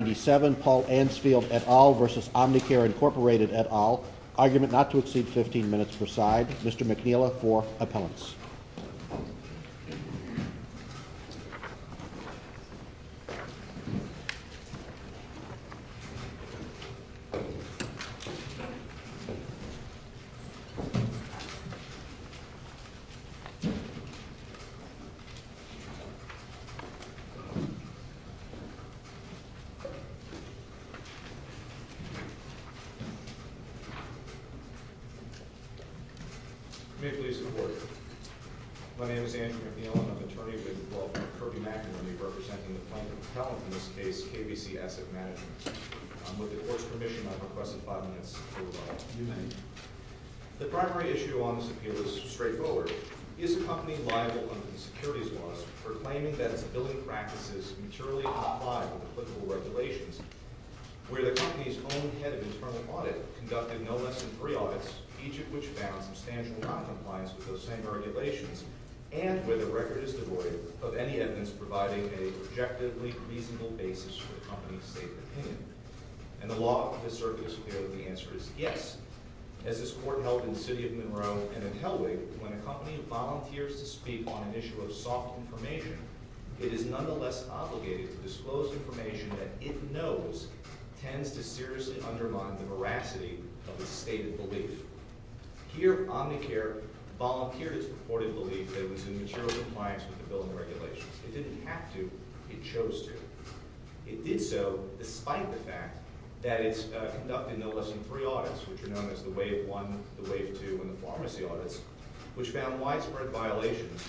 At all versus Omnicare Incorporated at all, argument not to exceed 15 minutes per side. Mr. McNeila for appellants. May it please the Court. My name is Andrew McNeil and I'm an attorney who has been involved with Kirby McIlwain representing the plaintiff's appellant in this case, KVC Asset Management. With the Court's permission, I have requested five minutes of your time. The primary issue on this appeal is straightforward. Is the company liable under the securities laws for claiming that its billing practices materially outlied with applicable regulations, where the company's own head of internal audit conducted no less than three audits, each of which found substantial noncompliance with those same regulations, and where the record is devoid of any evidence providing a objectively reasonable basis for the company's stated opinion? And the law of the circuit is clear that the answer is yes. As this Court held in the city of Monroe and in Helwig, when a company volunteers to speak on an issue of soft information, it is nonetheless obligated to disclose information that it knows tends to seriously undermine the veracity of its stated belief. Here, Omnicare volunteered its purported belief that it was in material compliance with the billing regulations. It didn't have to. It chose to. It did so despite the fact that it conducted no less than three audits, which are known as the Wave I, the Wave II, and the Pharmacy audits, which found widespread violations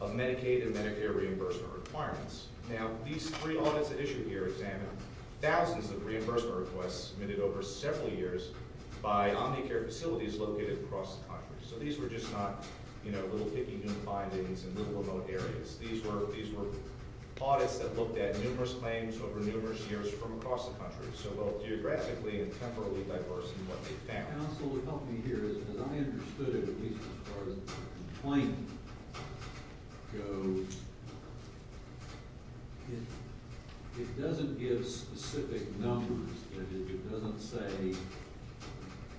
of Medicaid and Medicare reimbursement requirements. Now, these three audits at issue here examined thousands of reimbursement requests submitted over several years by Omnicare facilities located across the country. So these were just not, you know, little picky-goon findings in little remote areas. These were audits that looked at numerous claims over numerous years from across the country, so both geographically and temporally diverse in what they found. As I understood it, at least as far as the complaint goes, it doesn't give specific numbers. That is, it doesn't say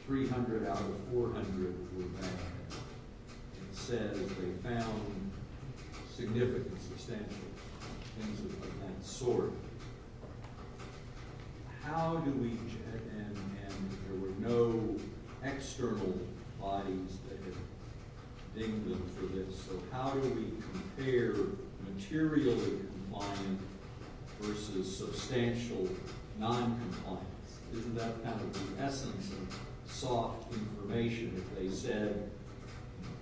300 out of 400 were bad. It said that they found significant, substantial things of that sort. How do we – and there were no external bodies that had dinged them for this – so how do we compare materially compliant versus substantial noncompliance? Isn't that kind of the essence of soft information? If they said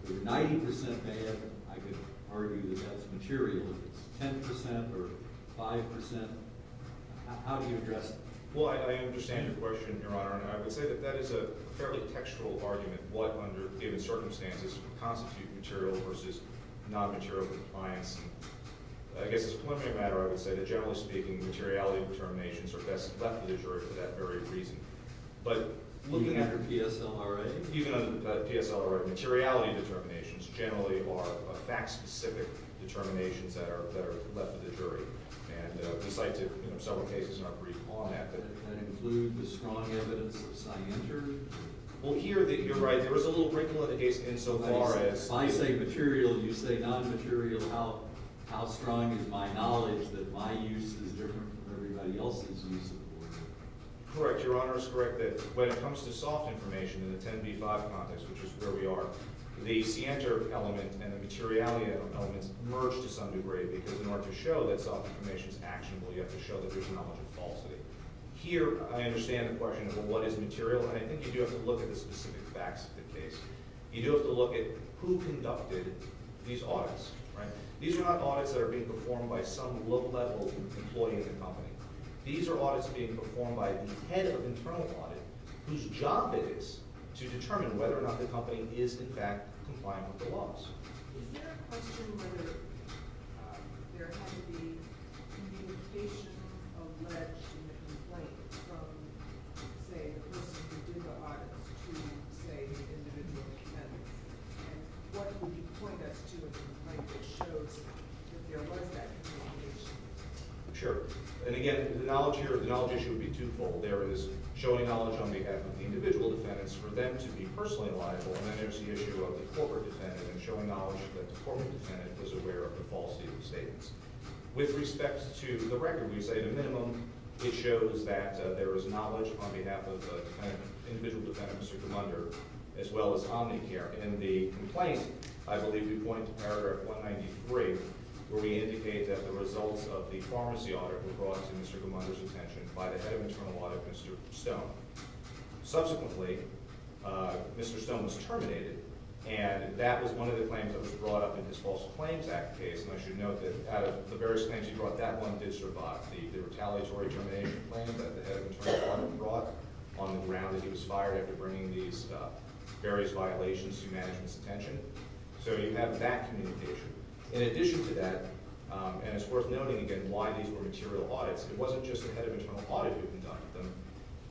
they were 90 percent bad, I could argue that that's material. If it's 10 percent or 5 percent, how do you address that? Well, I understand your question, Your Honor, and I would say that that is a fairly textual argument, what under given circumstances would constitute material versus nonmaterial compliance. I guess as a preliminary matter, I would say that generally speaking, materiality determinations are best left to the jury for that very reason. Looking under PSLRA? Even under PSLRA, materiality determinations generally are fact-specific determinations that are left to the jury. And the site did several cases in our brief on that. Does that include the strong evidence of cyanter? Well, here, you're right, there is a little wrinkle in the case insofar as – If I say material, you say nonmaterial, how strong is my knowledge that my use is different from everybody else's use of the word? Correct. Your Honor is correct that when it comes to soft information in the 10B-5 context, which is where we are, the cyanter element and the materiality elements merge to some degree because in order to show that soft information is actionable, you have to show that there's knowledge of falsity. Here, I understand the question of what is material, and I think you do have to look at the specific facts of the case. You do have to look at who conducted these audits, right? These are not audits that are being performed by some low-level employee in the company. These are audits being performed by the head of the internal audit, whose job it is to determine whether or not the company is, in fact, compliant with the laws. Is there a question whether there had to be communication alleged in the complaint from, say, the person who did the audits to, say, individual defendants? And what would you point us to in the complaint that shows that there was that communication? Sure. And again, the knowledge issue would be twofold. There is showing knowledge on behalf of the individual defendants for them to be personally liable, and then there's the issue of the corporate defendant and showing knowledge that the corporate defendant was aware of the falsity of the statements. With respect to the record, we say at a minimum it shows that there is knowledge on behalf of the individual defendants who come under, as well as Omnicare. In the complaint, I believe we point to Paragraph 193, where we indicate that the results of the pharmacy audit were brought to Mr. Gumunda's attention by the head of internal audit, Mr. Stone. Subsequently, Mr. Stone was terminated, and that was one of the claims that was brought up in his False Claims Act case. And I should note that out of the various claims he brought up, that one did survive. The retaliatory termination claim that the head of internal audit brought on the ground that he was fired after bringing these various violations to management's attention. So you have that communication. In addition to that, and it's worth noting again why these were material audits, it wasn't just the head of internal audit who conducted them.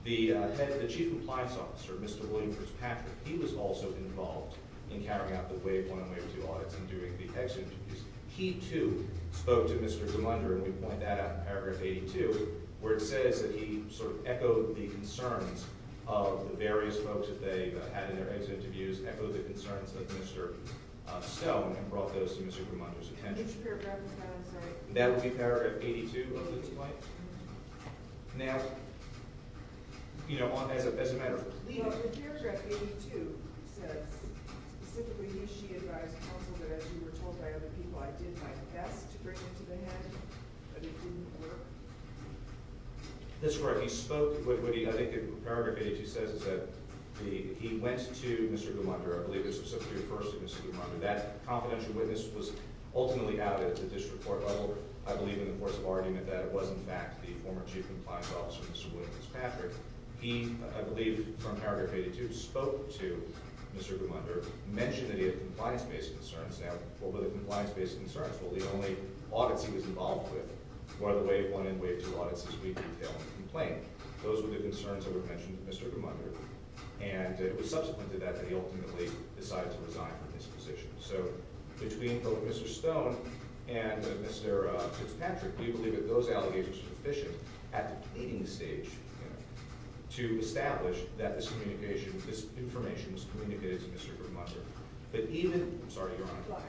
The head of the Chief Compliance Officer, Mr. William Prince Patrick, he was also involved in carrying out the Wave 1 and Wave 2 audits and doing the hex interviews. He, too, spoke to Mr. Gumunda, and we point that out in Paragraph 82, where it says that he sort of echoed the concerns of the various folks that they had in their hex interviews, echoed the concerns of Mr. Stone, and brought those to Mr. Gumunda's attention. That would be Paragraph 82 of the complaint? Now, you know, as a matter of... It says, specifically, he, she advised counsel that, as you were told by other people, I did my best to bring him to the head, but it didn't work. That's correct. He spoke with... I think Paragraph 82 says that he went to Mr. Gumunda. I believe it's specifically referred to Mr. Gumunda. That confidential witness was ultimately out at the district court level, I believe, in the course of argument that it was, in fact, the former Chief Compliance Officer, Mr. William Prince Patrick. He, I believe, from Paragraph 82, spoke to Mr. Gumunda, mentioned that he had compliance-based concerns. Now, what were the compliance-based concerns? Well, the only audits he was involved with were the Wave 1 and Wave 2 audits, as we detail in the complaint. Those were the concerns that were mentioned to Mr. Gumunda, and it was subsequent to that that he ultimately decided to resign from his position. So, between both Mr. Stone and Mr. Prince Patrick, we believe that those allegations were sufficient at the pleading stage, you know, to establish that this communication, this information was communicated to Mr. Gumunda. But even... I'm sorry, Your Honor.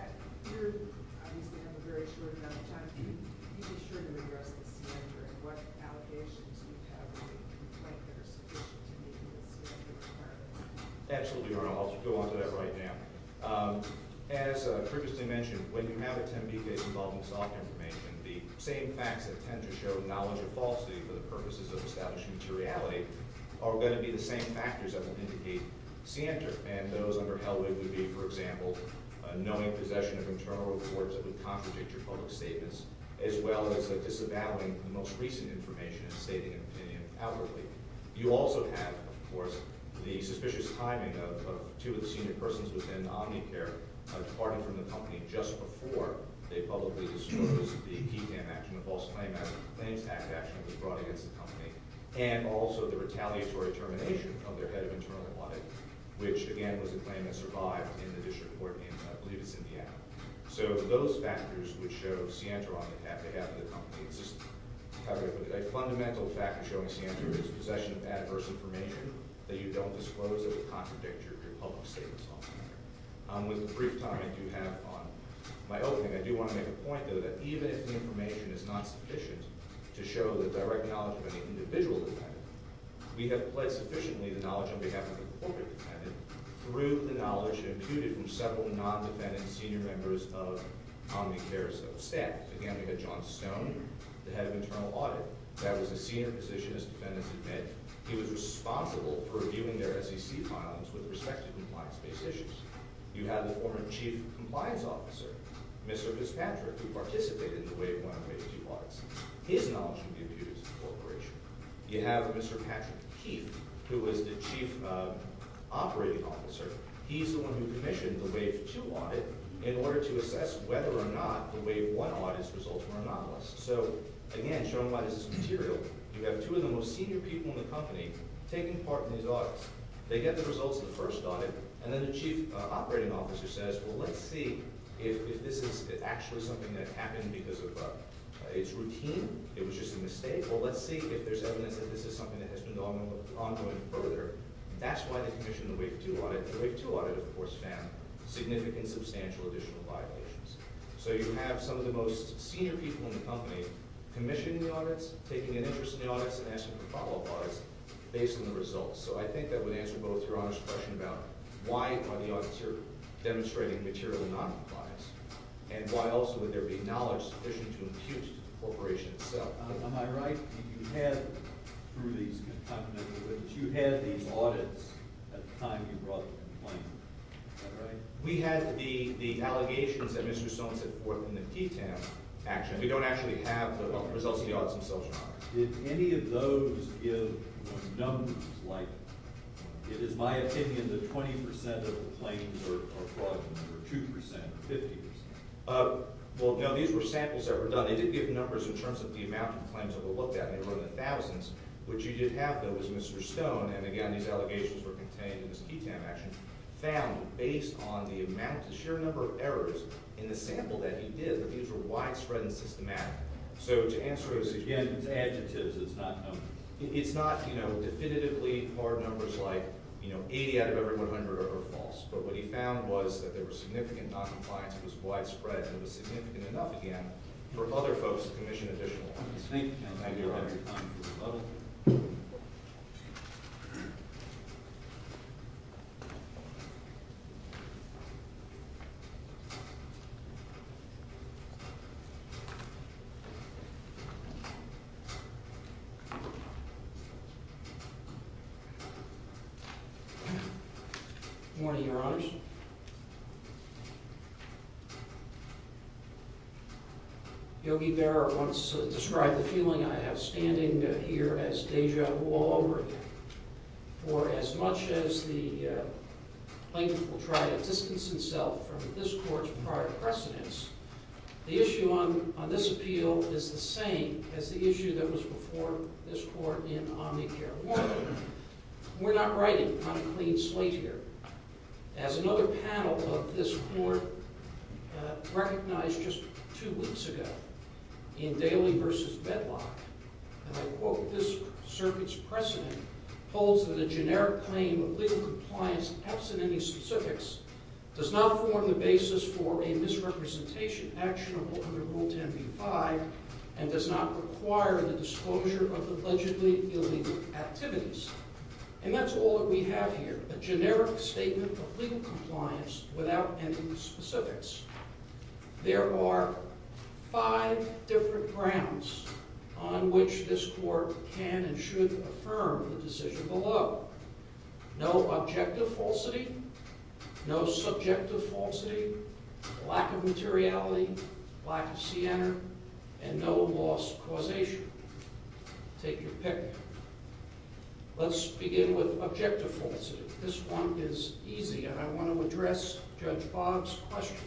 You obviously have a very short amount of time. Can you be sure to read the rest of the statute and what allegations you have in the complaint that are sufficient to meet the statute requirements? Absolutely, Your Honor. I'll go on to that right now. As previously mentioned, when you have a Tempe case involving soft information, the same facts that tend to show knowledge of falsity for the purposes of establishing materiality are going to be the same factors that would indicate scienter. And those under Helwig would be, for example, knowing possession of internal reports that would contradict your public statements, as well as disavowing the most recent information and stating an opinion outwardly. You also have, of course, the suspicious timing of two of the senior persons within Omnicare departing from the company just before they publicly disclosed the PFAM action, the False Claim Act, the Claims Act action that was brought against the company, and also the retaliatory termination of their head of internal audit, which, again, was a claim that survived in the district court in, I believe, it's Indiana. So those factors would show scienter on behalf of the company. It's just a fundamental factor showing scienter is possession of adverse information that you don't disclose that would contradict your public statements. With the brief time I do have on my opening, I do want to make a point, though, that even if the information is not sufficient to show the direct knowledge of any individual defendant, we have pledged sufficiently the knowledge on behalf of the corporate defendant through the knowledge imputed from several non-defendant senior members of Omnicare's staff. Again, we have John Stone, the head of internal audit. That was a senior position, as defendants admit. He was responsible for reviewing their SEC files with respect to compliance-based issues. You have the former chief compliance officer, Mr. Fitzpatrick, who participated in the Wave 1 and Wave 2 audits. His knowledge would be imputed to the corporation. You have Mr. Patrick Heath, who was the chief operating officer. He's the one who commissioned the Wave 2 audit in order to assess whether or not the Wave 1 audits results were anomalous. So, again, showing why this is material, you have two of the most senior people in the company taking part in these audits. They get the results of the first audit, and then the chief operating officer says, well, let's see if this is actually something that happened because of its routine. It was just a mistake. Well, let's see if there's evidence that this is something that has been ongoing further. That's why they commissioned the Wave 2 audit. The Wave 2 audit, of course, found significant substantial additional violations. So you have some of the most senior people in the company commissioning the audits, taking an interest in the audits, and asking for follow-up audits based on the results. So I think that would answer both Your Honor's question about why are the auditors demonstrating material noncompliance and why also would there be knowledge sufficient to impute to the corporation itself. Am I right? You had, through these complimentary witnesses, you had these audits at the time you brought the complaint. Is that right? We had the allegations that Mr. Stone set forth in the PTAM action. We don't actually have the results of the audits themselves, Your Honor. Did any of those give numbers? Like, it is my opinion that 20% of the claims are fraudulent or 2% or 50%. Well, no. These were samples that were done. They did give numbers in terms of the amount of claims that were looked at, and they were in the thousands. What you did have, though, was Mr. Stone, and again, these allegations were contained in this PTAM action, found, based on the amount, the sheer number of errors in the sample that he did, that these were widespread and systematic. So to answer his, again, his adjectives, it's not definitively hard numbers like 80 out of every 100 are false. But what he found was that there was significant noncompliance. It was widespread, and it was significant enough, again, for other folks to commission additional ones. Thank you, Your Honor. Thank you, Your Honor. Thank you. Good morning, Your Honors. Yogi Berra once described the feeling I have standing here as deja vu all over again. For as much as the plaintiff will try to distance himself from this court's prior precedents, the issue on this appeal is the same as the issue that was before this court in Omnicare Warden. We're not writing on a clean slate here. As another panel of this court recognized just two weeks ago in Daly v. Bedlock, and I quote, And that's all that we have here, a generic statement of legal compliance without any specifics. There are five different grounds on which this court can and should affirm the decision below. No objective falsity, no subjective falsity, lack of materiality, lack of sienna, and no lost causation. Take your pick. Let's begin with objective falsity. This one is easy, and I want to address Judge Bob's question.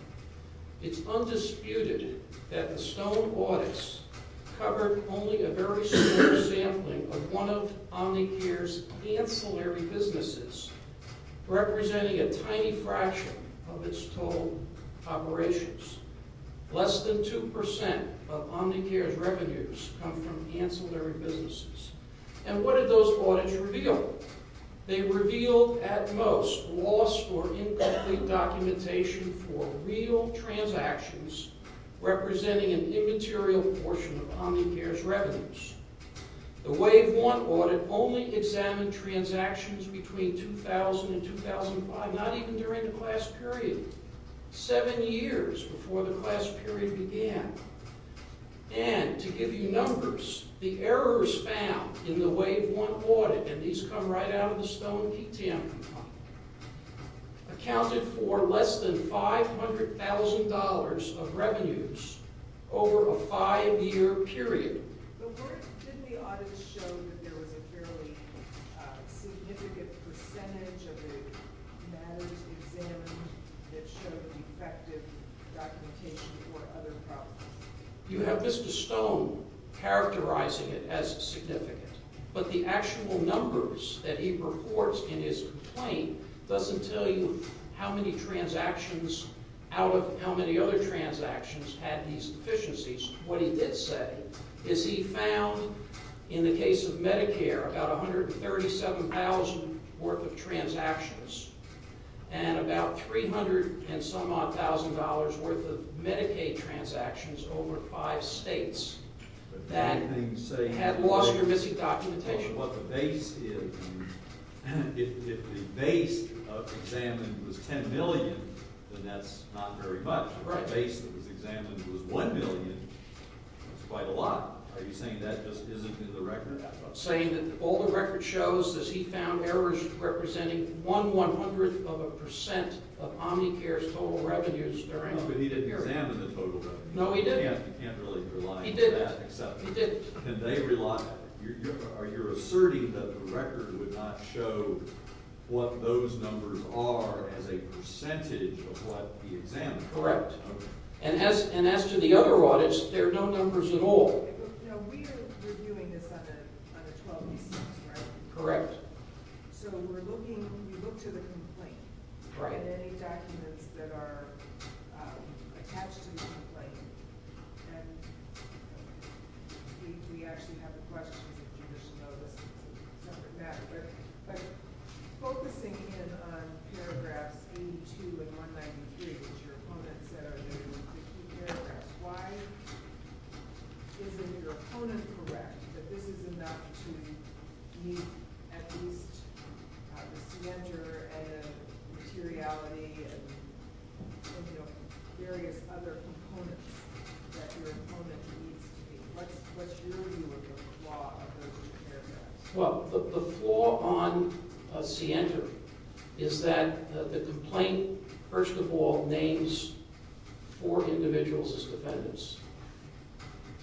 It's undisputed that the Stone audits covered only a very small sampling of one of Omnicare's ancillary businesses, representing a tiny fraction of its total operations. Less than 2% of Omnicare's revenues come from ancillary businesses. And what did those audits reveal? They revealed, at most, loss or incomplete documentation for real transactions representing an immaterial portion of Omnicare's revenues. The Wave 1 audit only examined transactions between 2000 and 2005, not even during the class period. Seven years before the class period began. And, to give you numbers, the errors found in the Wave 1 audit, and these come right out of the Stone PTM complaint, accounted for less than $500,000 of revenues over a five-year period. But didn't the audits show that there was a fairly significant percentage of the matters examined that showed defective documentation or other problems? You have Mr. Stone characterizing it as significant. But the actual numbers that he reports in his complaint doesn't tell you how many transactions out of how many other transactions had these deficiencies. What he did say is he found, in the case of Medicare, about $137,000 worth of transactions, and about $300,000 and some odd thousand dollars worth of Medicaid transactions over five states that had loss or missing documentation. If the base of examined was $10 million, then that's not very much. The base that was examined was $1 million. That's quite a lot. Are you saying that just isn't in the record? I'm saying that all the record shows that he found errors representing 1 one-hundredth of a percent of Omnicare's total revenues during a period. But he didn't examine the total revenues. No, he didn't. You can't really rely on that. He didn't. Are you asserting that the record would not show what those numbers are as a percentage of what he examined? Correct. And as to the other audits, there are no numbers at all. No, we are reviewing this on a 12-by-6, right? Correct. So we're looking – you look to the complaint. Right. And any documents that are attached to the complaint. And we actually have the questions if you wish to know this. It's a separate matter. But focusing in on paragraphs 82 and 193, which your opponent said are the key paragraphs, why isn't your opponent correct that this is enough to meet at least the scienter and materiality and various other components that your opponent needs to meet? What's your view of the flaw of those paragraphs? Well, the flaw on scienter is that the complaint, first of all, names four individuals as defendants.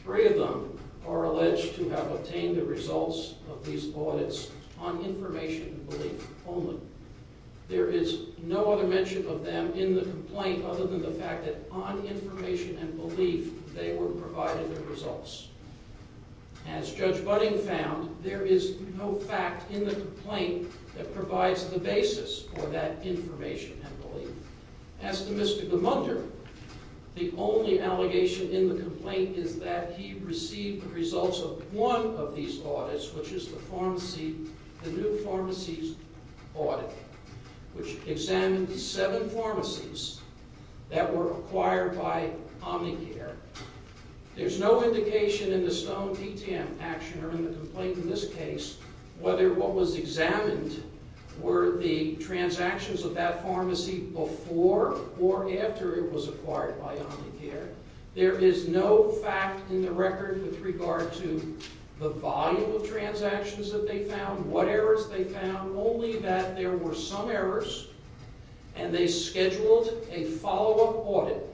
Three of them are alleged to have obtained the results of these audits on information and belief only. There is no other mention of them in the complaint other than the fact that on information and belief they were provided the results. As Judge Budding found, there is no fact in the complaint that provides the basis for that information and belief. As to Mr. Gamunder, the only allegation in the complaint is that he received the results of one of these audits, which is the new pharmacies audit, which examined seven pharmacies that were acquired by Omnicare. There's no indication in the Stone PTM action or in the complaint in this case whether what was examined were the transactions of that pharmacy before or after it was acquired by Omnicare. There is no fact in the record with regard to the volume of transactions that they found, what errors they found, only that there were some errors and they scheduled a follow-up audit.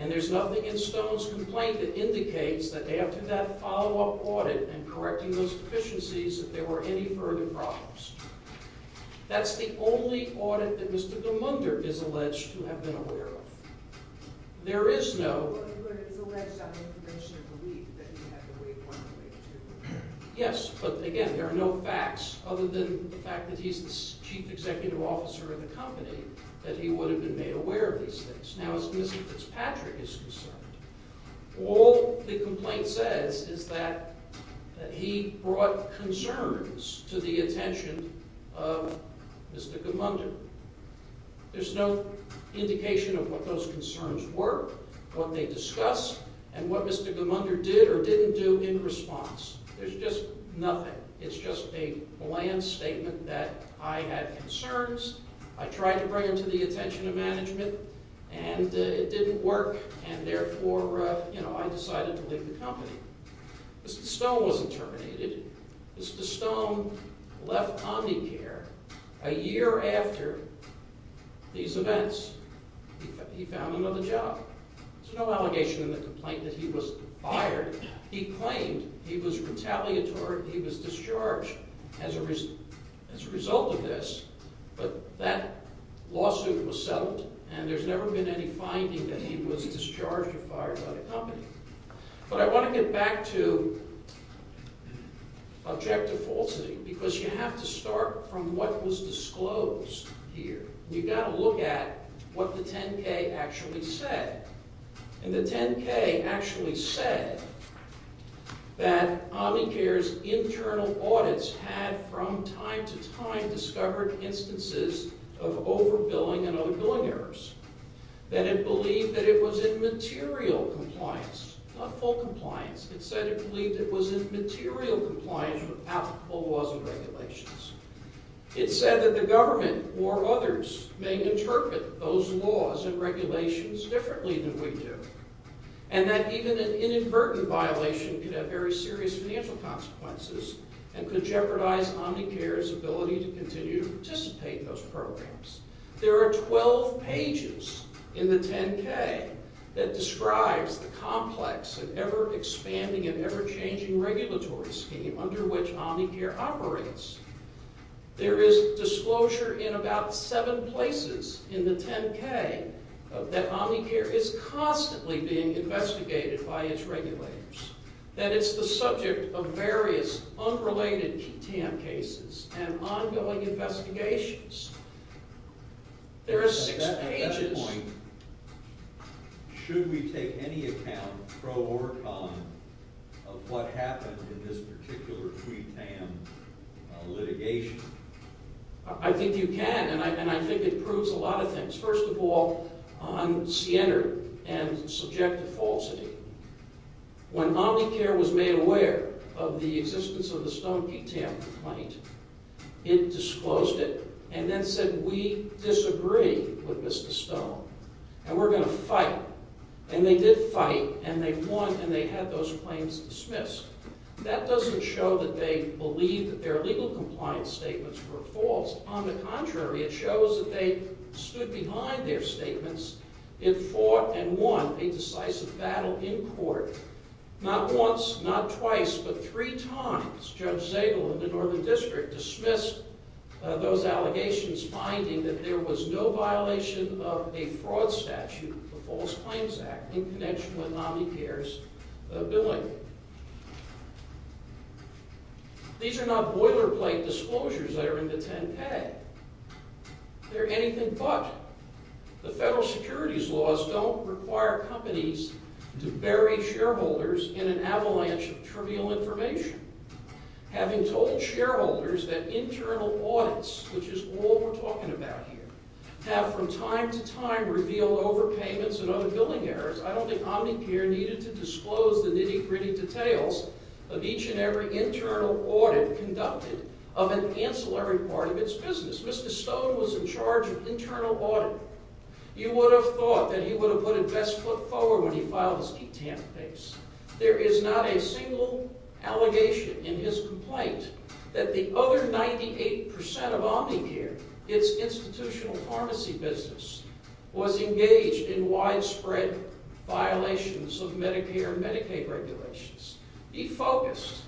And there's nothing in Stone's complaint that indicates that after that follow-up audit and correcting those deficiencies that there were any further problems. That's the only audit that Mr. Gamunder is alleged to have been aware of. There is no... Yes, but again, there are no facts other than the fact that he's the chief executive officer of the company that he would have been made aware of these things. Now, as Mr. Fitzpatrick is concerned, all the complaint says is that he brought concerns to the attention of Mr. Gamunder. There's no indication of what those concerns were, what they discussed, and what Mr. Gamunder did or didn't do in response. There's just nothing. It's just a bland statement that I had concerns, I tried to bring them to the attention of management, and it didn't work, and therefore, you know, I decided to leave the company. Mr. Stone wasn't terminated. Mr. Stone left Omnicare a year after these events. He found another job. There's no allegation in the complaint that he was fired. He claimed he was retaliatory, he was discharged as a result of this, but that lawsuit was settled, and there's never been any finding that he was discharged or fired by the company. But I want to get back to objective falsity, because you have to start from what was disclosed here. You've got to look at what the 10K actually said. And the 10K actually said that Omnicare's internal audits had, from time to time, discovered instances of overbilling and overbilling errors, that it believed that it was in material compliance, not full compliance. It said it believed it was in material compliance without full laws and regulations. It said that the government or others may interpret those laws and regulations differently than we do, and that even an inadvertent violation could have very serious financial consequences and could jeopardize Omnicare's ability to continue to participate in those programs. There are 12 pages in the 10K that describes the complex and ever-expanding and ever-changing regulatory scheme under which Omnicare operates. There is disclosure in about seven places in the 10K that Omnicare is constantly being investigated by its regulators. That it's the subject of various unrelated QTAM cases and ongoing investigations. There are six pages. At that point, should we take any account, pro or con, of what happened in this particular QTAM litigation? I think you can, and I think it proves a lot of things. First of all, on Sienner and subjective falsity. When Omnicare was made aware of the existence of the Stone QTAM complaint, it disclosed it and then said, we disagree with Mr. Stone, and we're going to fight. And they did fight, and they won, and they had those claims dismissed. That doesn't show that they believed that their legal compliance statements were false. On the contrary, it shows that they stood behind their statements and fought and won a decisive battle in court. Not once, not twice, but three times, Judge Zabel in the Northern District dismissed those allegations, finding that there was no violation of a fraud statute, the False Claims Act, in connection with Omnicare's billing. These are not boilerplate disclosures that are in the 10-K. They're anything but. The federal securities laws don't require companies to bury shareholders in an avalanche of trivial information. Having told shareholders that internal audits, which is all we're talking about here, have from time to time revealed overpayments and other billing errors, I don't think Omnicare needed to disclose the nitty-gritty details of each and every internal audit conducted of an ancillary part of its business. Mr. Stone was in charge of internal audit. You would have thought that he would have put it best foot forward when he filed his QTAM case. There is not a single allegation in his complaint that the other 98% of Omnicare, its institutional pharmacy business, was engaged in widespread violations of Medicare and Medicaid regulations. He focused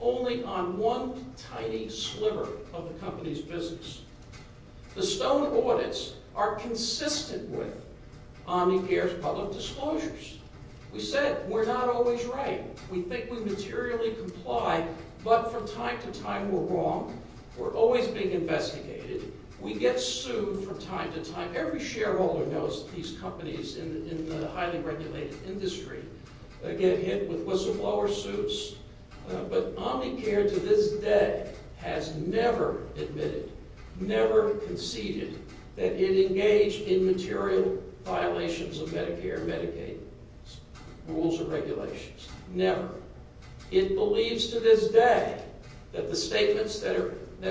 only on one tiny sliver of the company's business. The Stone audits are consistent with Omnicare's public disclosures. We said we're not always right. We think we materially comply, but from time to time we're wrong. We're always being investigated. We get sued from time to time. Every shareholder knows that these companies in the highly regulated industry get hit with whistleblower suits. But Omnicare to this day has never admitted, never conceded that it engaged in material violations of Medicare and Medicaid rules and regulations. Never. It believes to this day that the statements that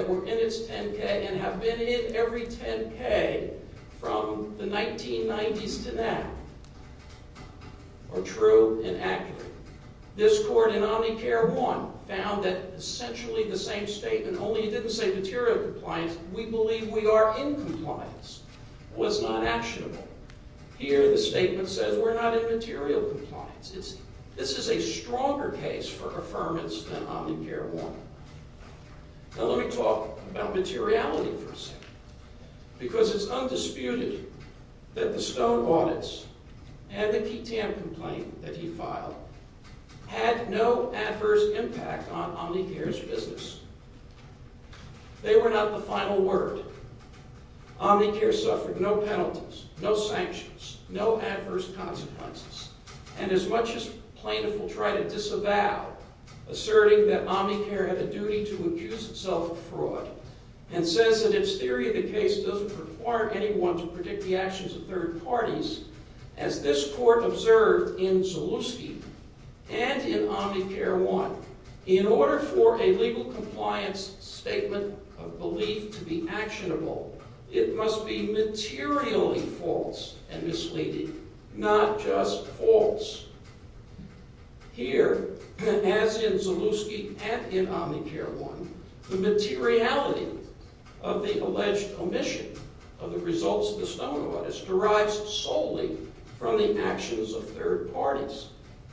were in its 10-K and have been in every 10-K from the 1990s to now are true and accurate. This court in Omnicare 1 found that essentially the same statement, only it didn't say material compliance, we believe we are in compliance, was not actionable. Here the statement says we're not in material compliance. This is a stronger case for affirmance than Omnicare 1. Now let me talk about materiality for a second. Because it's undisputed that the Stone audits and the PTM complaint that he filed had no adverse impact on Omnicare's business. They were not the final word. Omnicare suffered no penalties, no sanctions, no adverse consequences. And as much as plaintiff will try to disavow asserting that Omnicare had a duty to accuse itself of fraud and says that its theory of the case doesn't require anyone to predict the actions of third parties, as this court observed in Zalewski and in Omnicare 1, in order for a legal compliance statement of belief to be actionable, it must be materially false and misleading, not just false. Here, as in Zalewski and in Omnicare 1, the materiality of the alleged omission of the results of the Stone audits derives solely from the actions of third parties.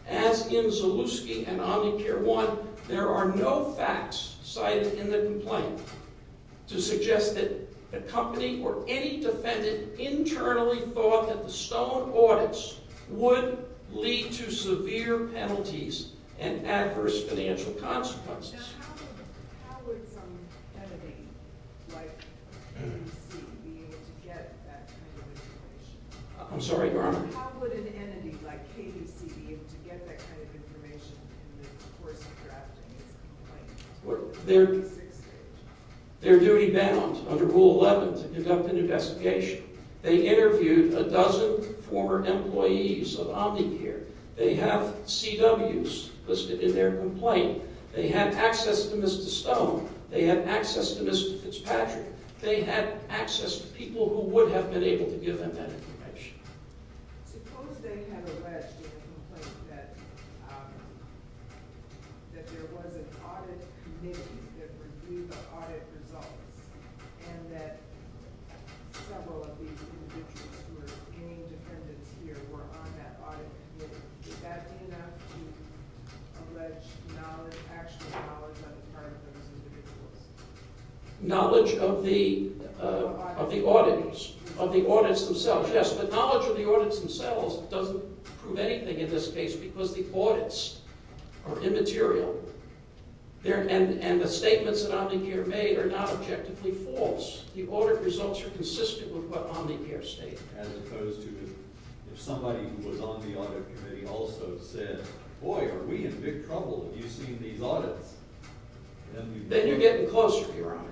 As in Zalewski and Omnicare 1, there are no facts cited in the complaint to suggest that a company or any defendant internally thought that the Stone audits would lead to severe penalties and adverse financial consequences. I'm sorry, Your Honor? How would an entity like KDC be able to get that kind of information in the course of drafting this complaint? They're duty-bound under Rule 11 to conduct an investigation. They interviewed a dozen former employees of Omnicare. They have CWs listed in their complaint. They had access to Mr. Stone. They had access to Mr. Fitzpatrick. They had access to people who would have been able to give them that information. Suppose they had alleged in the complaint that there was an audit committee that reviewed the audit results and that several of these individuals who were claiming defendants here were on that audit committee. Would that be enough to allege actual knowledge on the part of those individuals? Knowledge of the audits themselves. Knowledge of the audits themselves doesn't prove anything in this case because the audits are immaterial. And the statements that Omnicare made are not objectively false. The audit results are consistent with what Omnicare stated. As opposed to if somebody who was on the audit committee also said, boy, are we in big trouble if you've seen these audits. Then you're getting closer, Your Honor.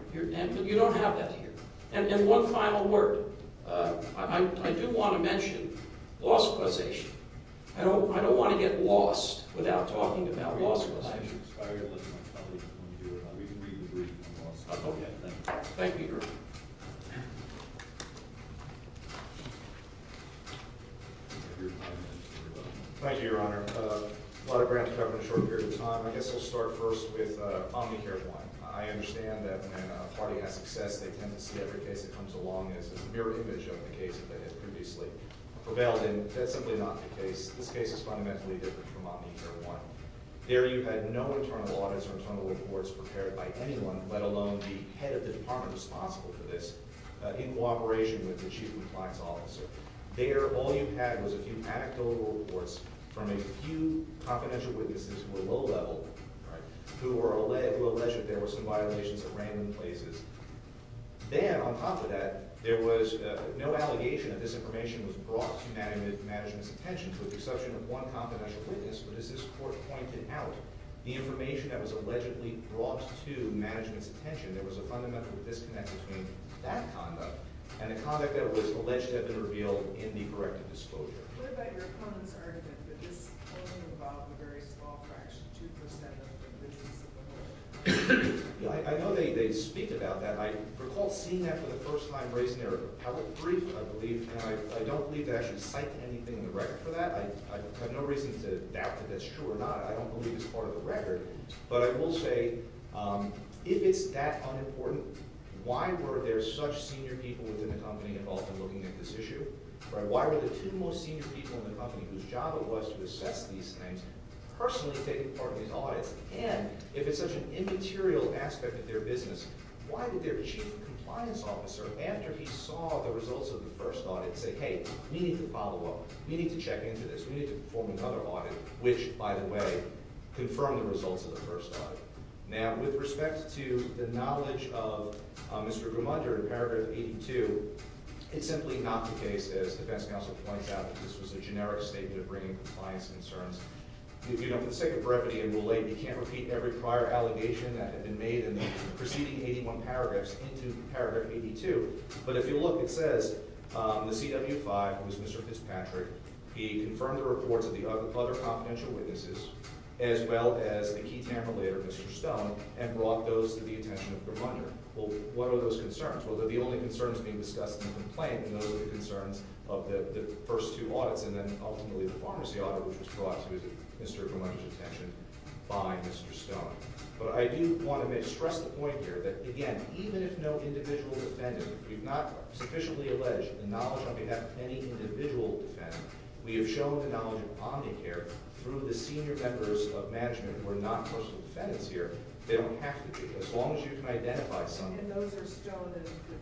But you don't have that here. And one final word. I do want to mention loss of causation. I don't want to get lost without talking about loss of causation. Thank you, Your Honor. Thank you, Your Honor. A lot of ground to cover in a short period of time. I guess I'll start first with Omnicare 1. I understand that when a party has success, they tend to see every case that comes along as a mirror image of the case that has previously prevailed. And that's simply not the case. This case is fundamentally different from Omnicare 1. There you had no internal audits or internal reports prepared by anyone, let alone the head of the department responsible for this, in cooperation with the chief compliance officer. There all you had was a few anecdotal reports from a few confidential witnesses who were low-level, who alleged that there were some violations at random places. Then, on top of that, there was no allegation that this information was brought to management's attention with the exception of one confidential witness. But as this court pointed out, the information that was allegedly brought to management's attention, there was a fundamental disconnect between that conduct and the conduct that was alleged to have been revealed in the corrective disclosure. What about your opponent's argument that this only involved a very small fraction, 2% of the individuals involved? I know they speak about that. I recall seeing that for the first time raising their appellate brief, I believe. And I don't believe they actually cite anything in the record for that. I have no reason to doubt that that's true or not. I don't believe it's part of the record. But I will say, if it's that unimportant, why were there such senior people within the company involved in looking at this issue? Why were the two most senior people in the company, whose job it was to assess these things, personally taking part in these audits? And if it's such an immaterial aspect of their business, why did their chief compliance officer, after he saw the results of the first audit, say, hey, we need to follow up, we need to check into this, we need to perform another audit, which, by the way, confirmed the results of the first audit? Now, with respect to the knowledge of Mr. Gumunder in paragraph 82, it's simply not the case, as the defense counsel points out, that this was a generic statement of bringing compliance concerns. You know, for the sake of brevity and relaying, you can't repeat every prior allegation that had been made in the preceding 81 paragraphs into paragraph 82. But if you look, it says the CW5 was Mr. Fitzpatrick. He confirmed the reports of the other confidential witnesses, as well as a key tamer later, Mr. Stone, and brought those to the attention of Gumunder. Well, what are those concerns? Well, they're the only concerns being discussed in the complaint, and those are the concerns of the first two audits, and then ultimately the pharmacy audit, which was brought to Mr. Gumunder's attention by Mr. Stone. But I do want to stress the point here that, again, even if no individual defendant, we've not sufficiently alleged the knowledge on behalf of any individual defendant, we have shown the knowledge of Omnicare through the senior members of management who are not personal defendants here. They don't have to be, as long as you can identify someone. And those are Stone and Fitzpatrick?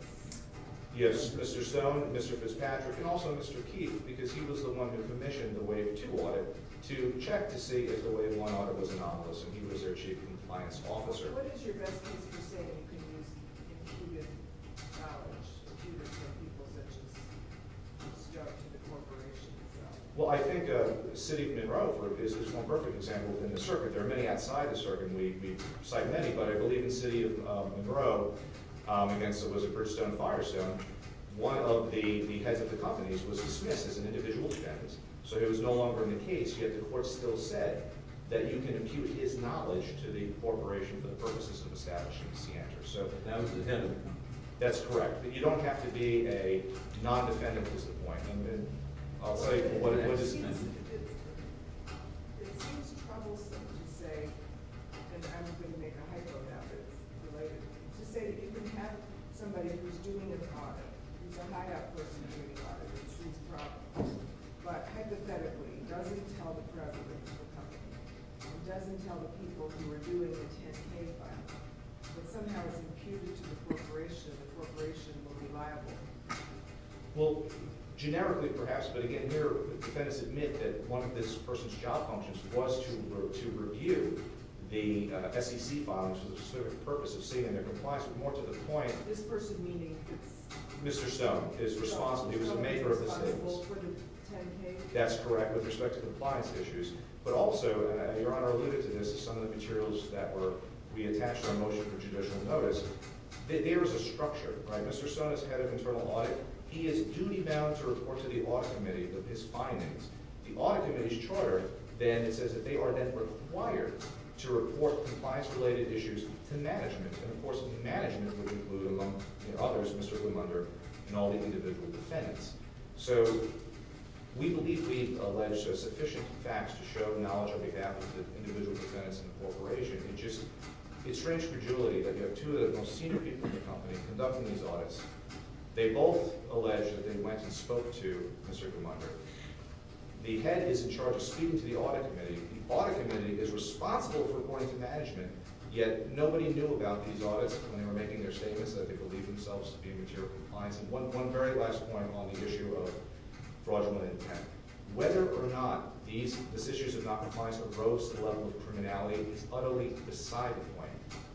Yes, Mr. Stone, Mr. Fitzpatrick, and also Mr. Keith, because he was the one who commissioned the Wave 2 audit to check to see if the Wave 1 audit was anomalous, and he was their chief compliance officer. But what is your best case for saying you couldn't use immediate knowledge to do this for people that just stuck to the corporation itself? Well, I think the city of Monroe is one perfect example within the circuit. There are many outside the circuit, and we cite many, but I believe in the city of Monroe, again, so it was a Bridgestone, Firestone. One of the heads of the companies was dismissed as an individual defendant, so he was no longer in the case, yet the court still said that you can impute his knowledge to the corporation for the purposes of establishing the CANTOR. So that was a defendant. That's correct. But you don't have to be a non-defendant, was the point. I'll tell you what it was. It seems troublesome to say – and I'm going to make a hypothesis related to this – to say that you can have somebody who's doing an audit, who's a high-up person doing an audit, and it seems probable, but hypothetically doesn't tell the prevalence of the company and doesn't tell the people who are doing the 10-K filing, but somehow is imputed to the corporation, and the corporation will be liable. Well, generically perhaps, but again, here defendants admit that one of this person's job functions was to review the SEC filing for the specific purpose of seeing their compliance, but more to the point, Mr. Stone is responsible. He was a maker of the statements. That's correct with respect to compliance issues, but also, Your Honor alluded to this, some of the materials that were – we attached our motion for judicial notice. There is a structure. Mr. Stone is head of internal audit. He is duty-bound to report to the audit committee of his findings. The audit committee's charter, then, it says that they are then required to report compliance-related issues to management, and of course, management would include, among others, Mr. Lumunder and all the individual defendants. So we believe we've alleged sufficient facts to show knowledge on behalf of the individual defendants and the corporation. It's strange for Julie that you have two of the most senior people in the company conducting these audits. They both allege that they went and spoke to Mr. Lumunder. The head is in charge of speaking to the audit committee. The audit committee is responsible for reporting to management, yet nobody knew about these audits when they were making their statements that they believed themselves to be in material compliance. And one very last point on the issue of fraudulent intent. Whether or not these decisions of not compliance arose to the level of criminality is utterly beside the point.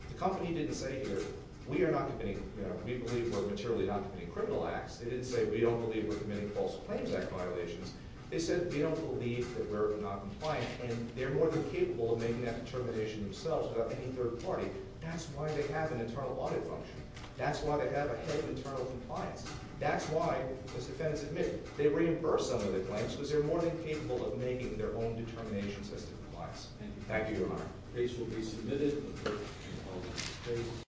The company didn't say here, we believe we're materially not committing criminal acts. They didn't say, we don't believe we're committing False Claims Act violations. They said, we don't believe that we're not compliant, and they're more than capable of making that determination themselves without any third party. That's why they have an internal audit function. That's why they have a head of internal compliance. That's why, as defendants admit, they reimbursed some of their claims because they're more than capable of making their own determinations as to compliance. Thank you, Your Honor. The case will be submitted.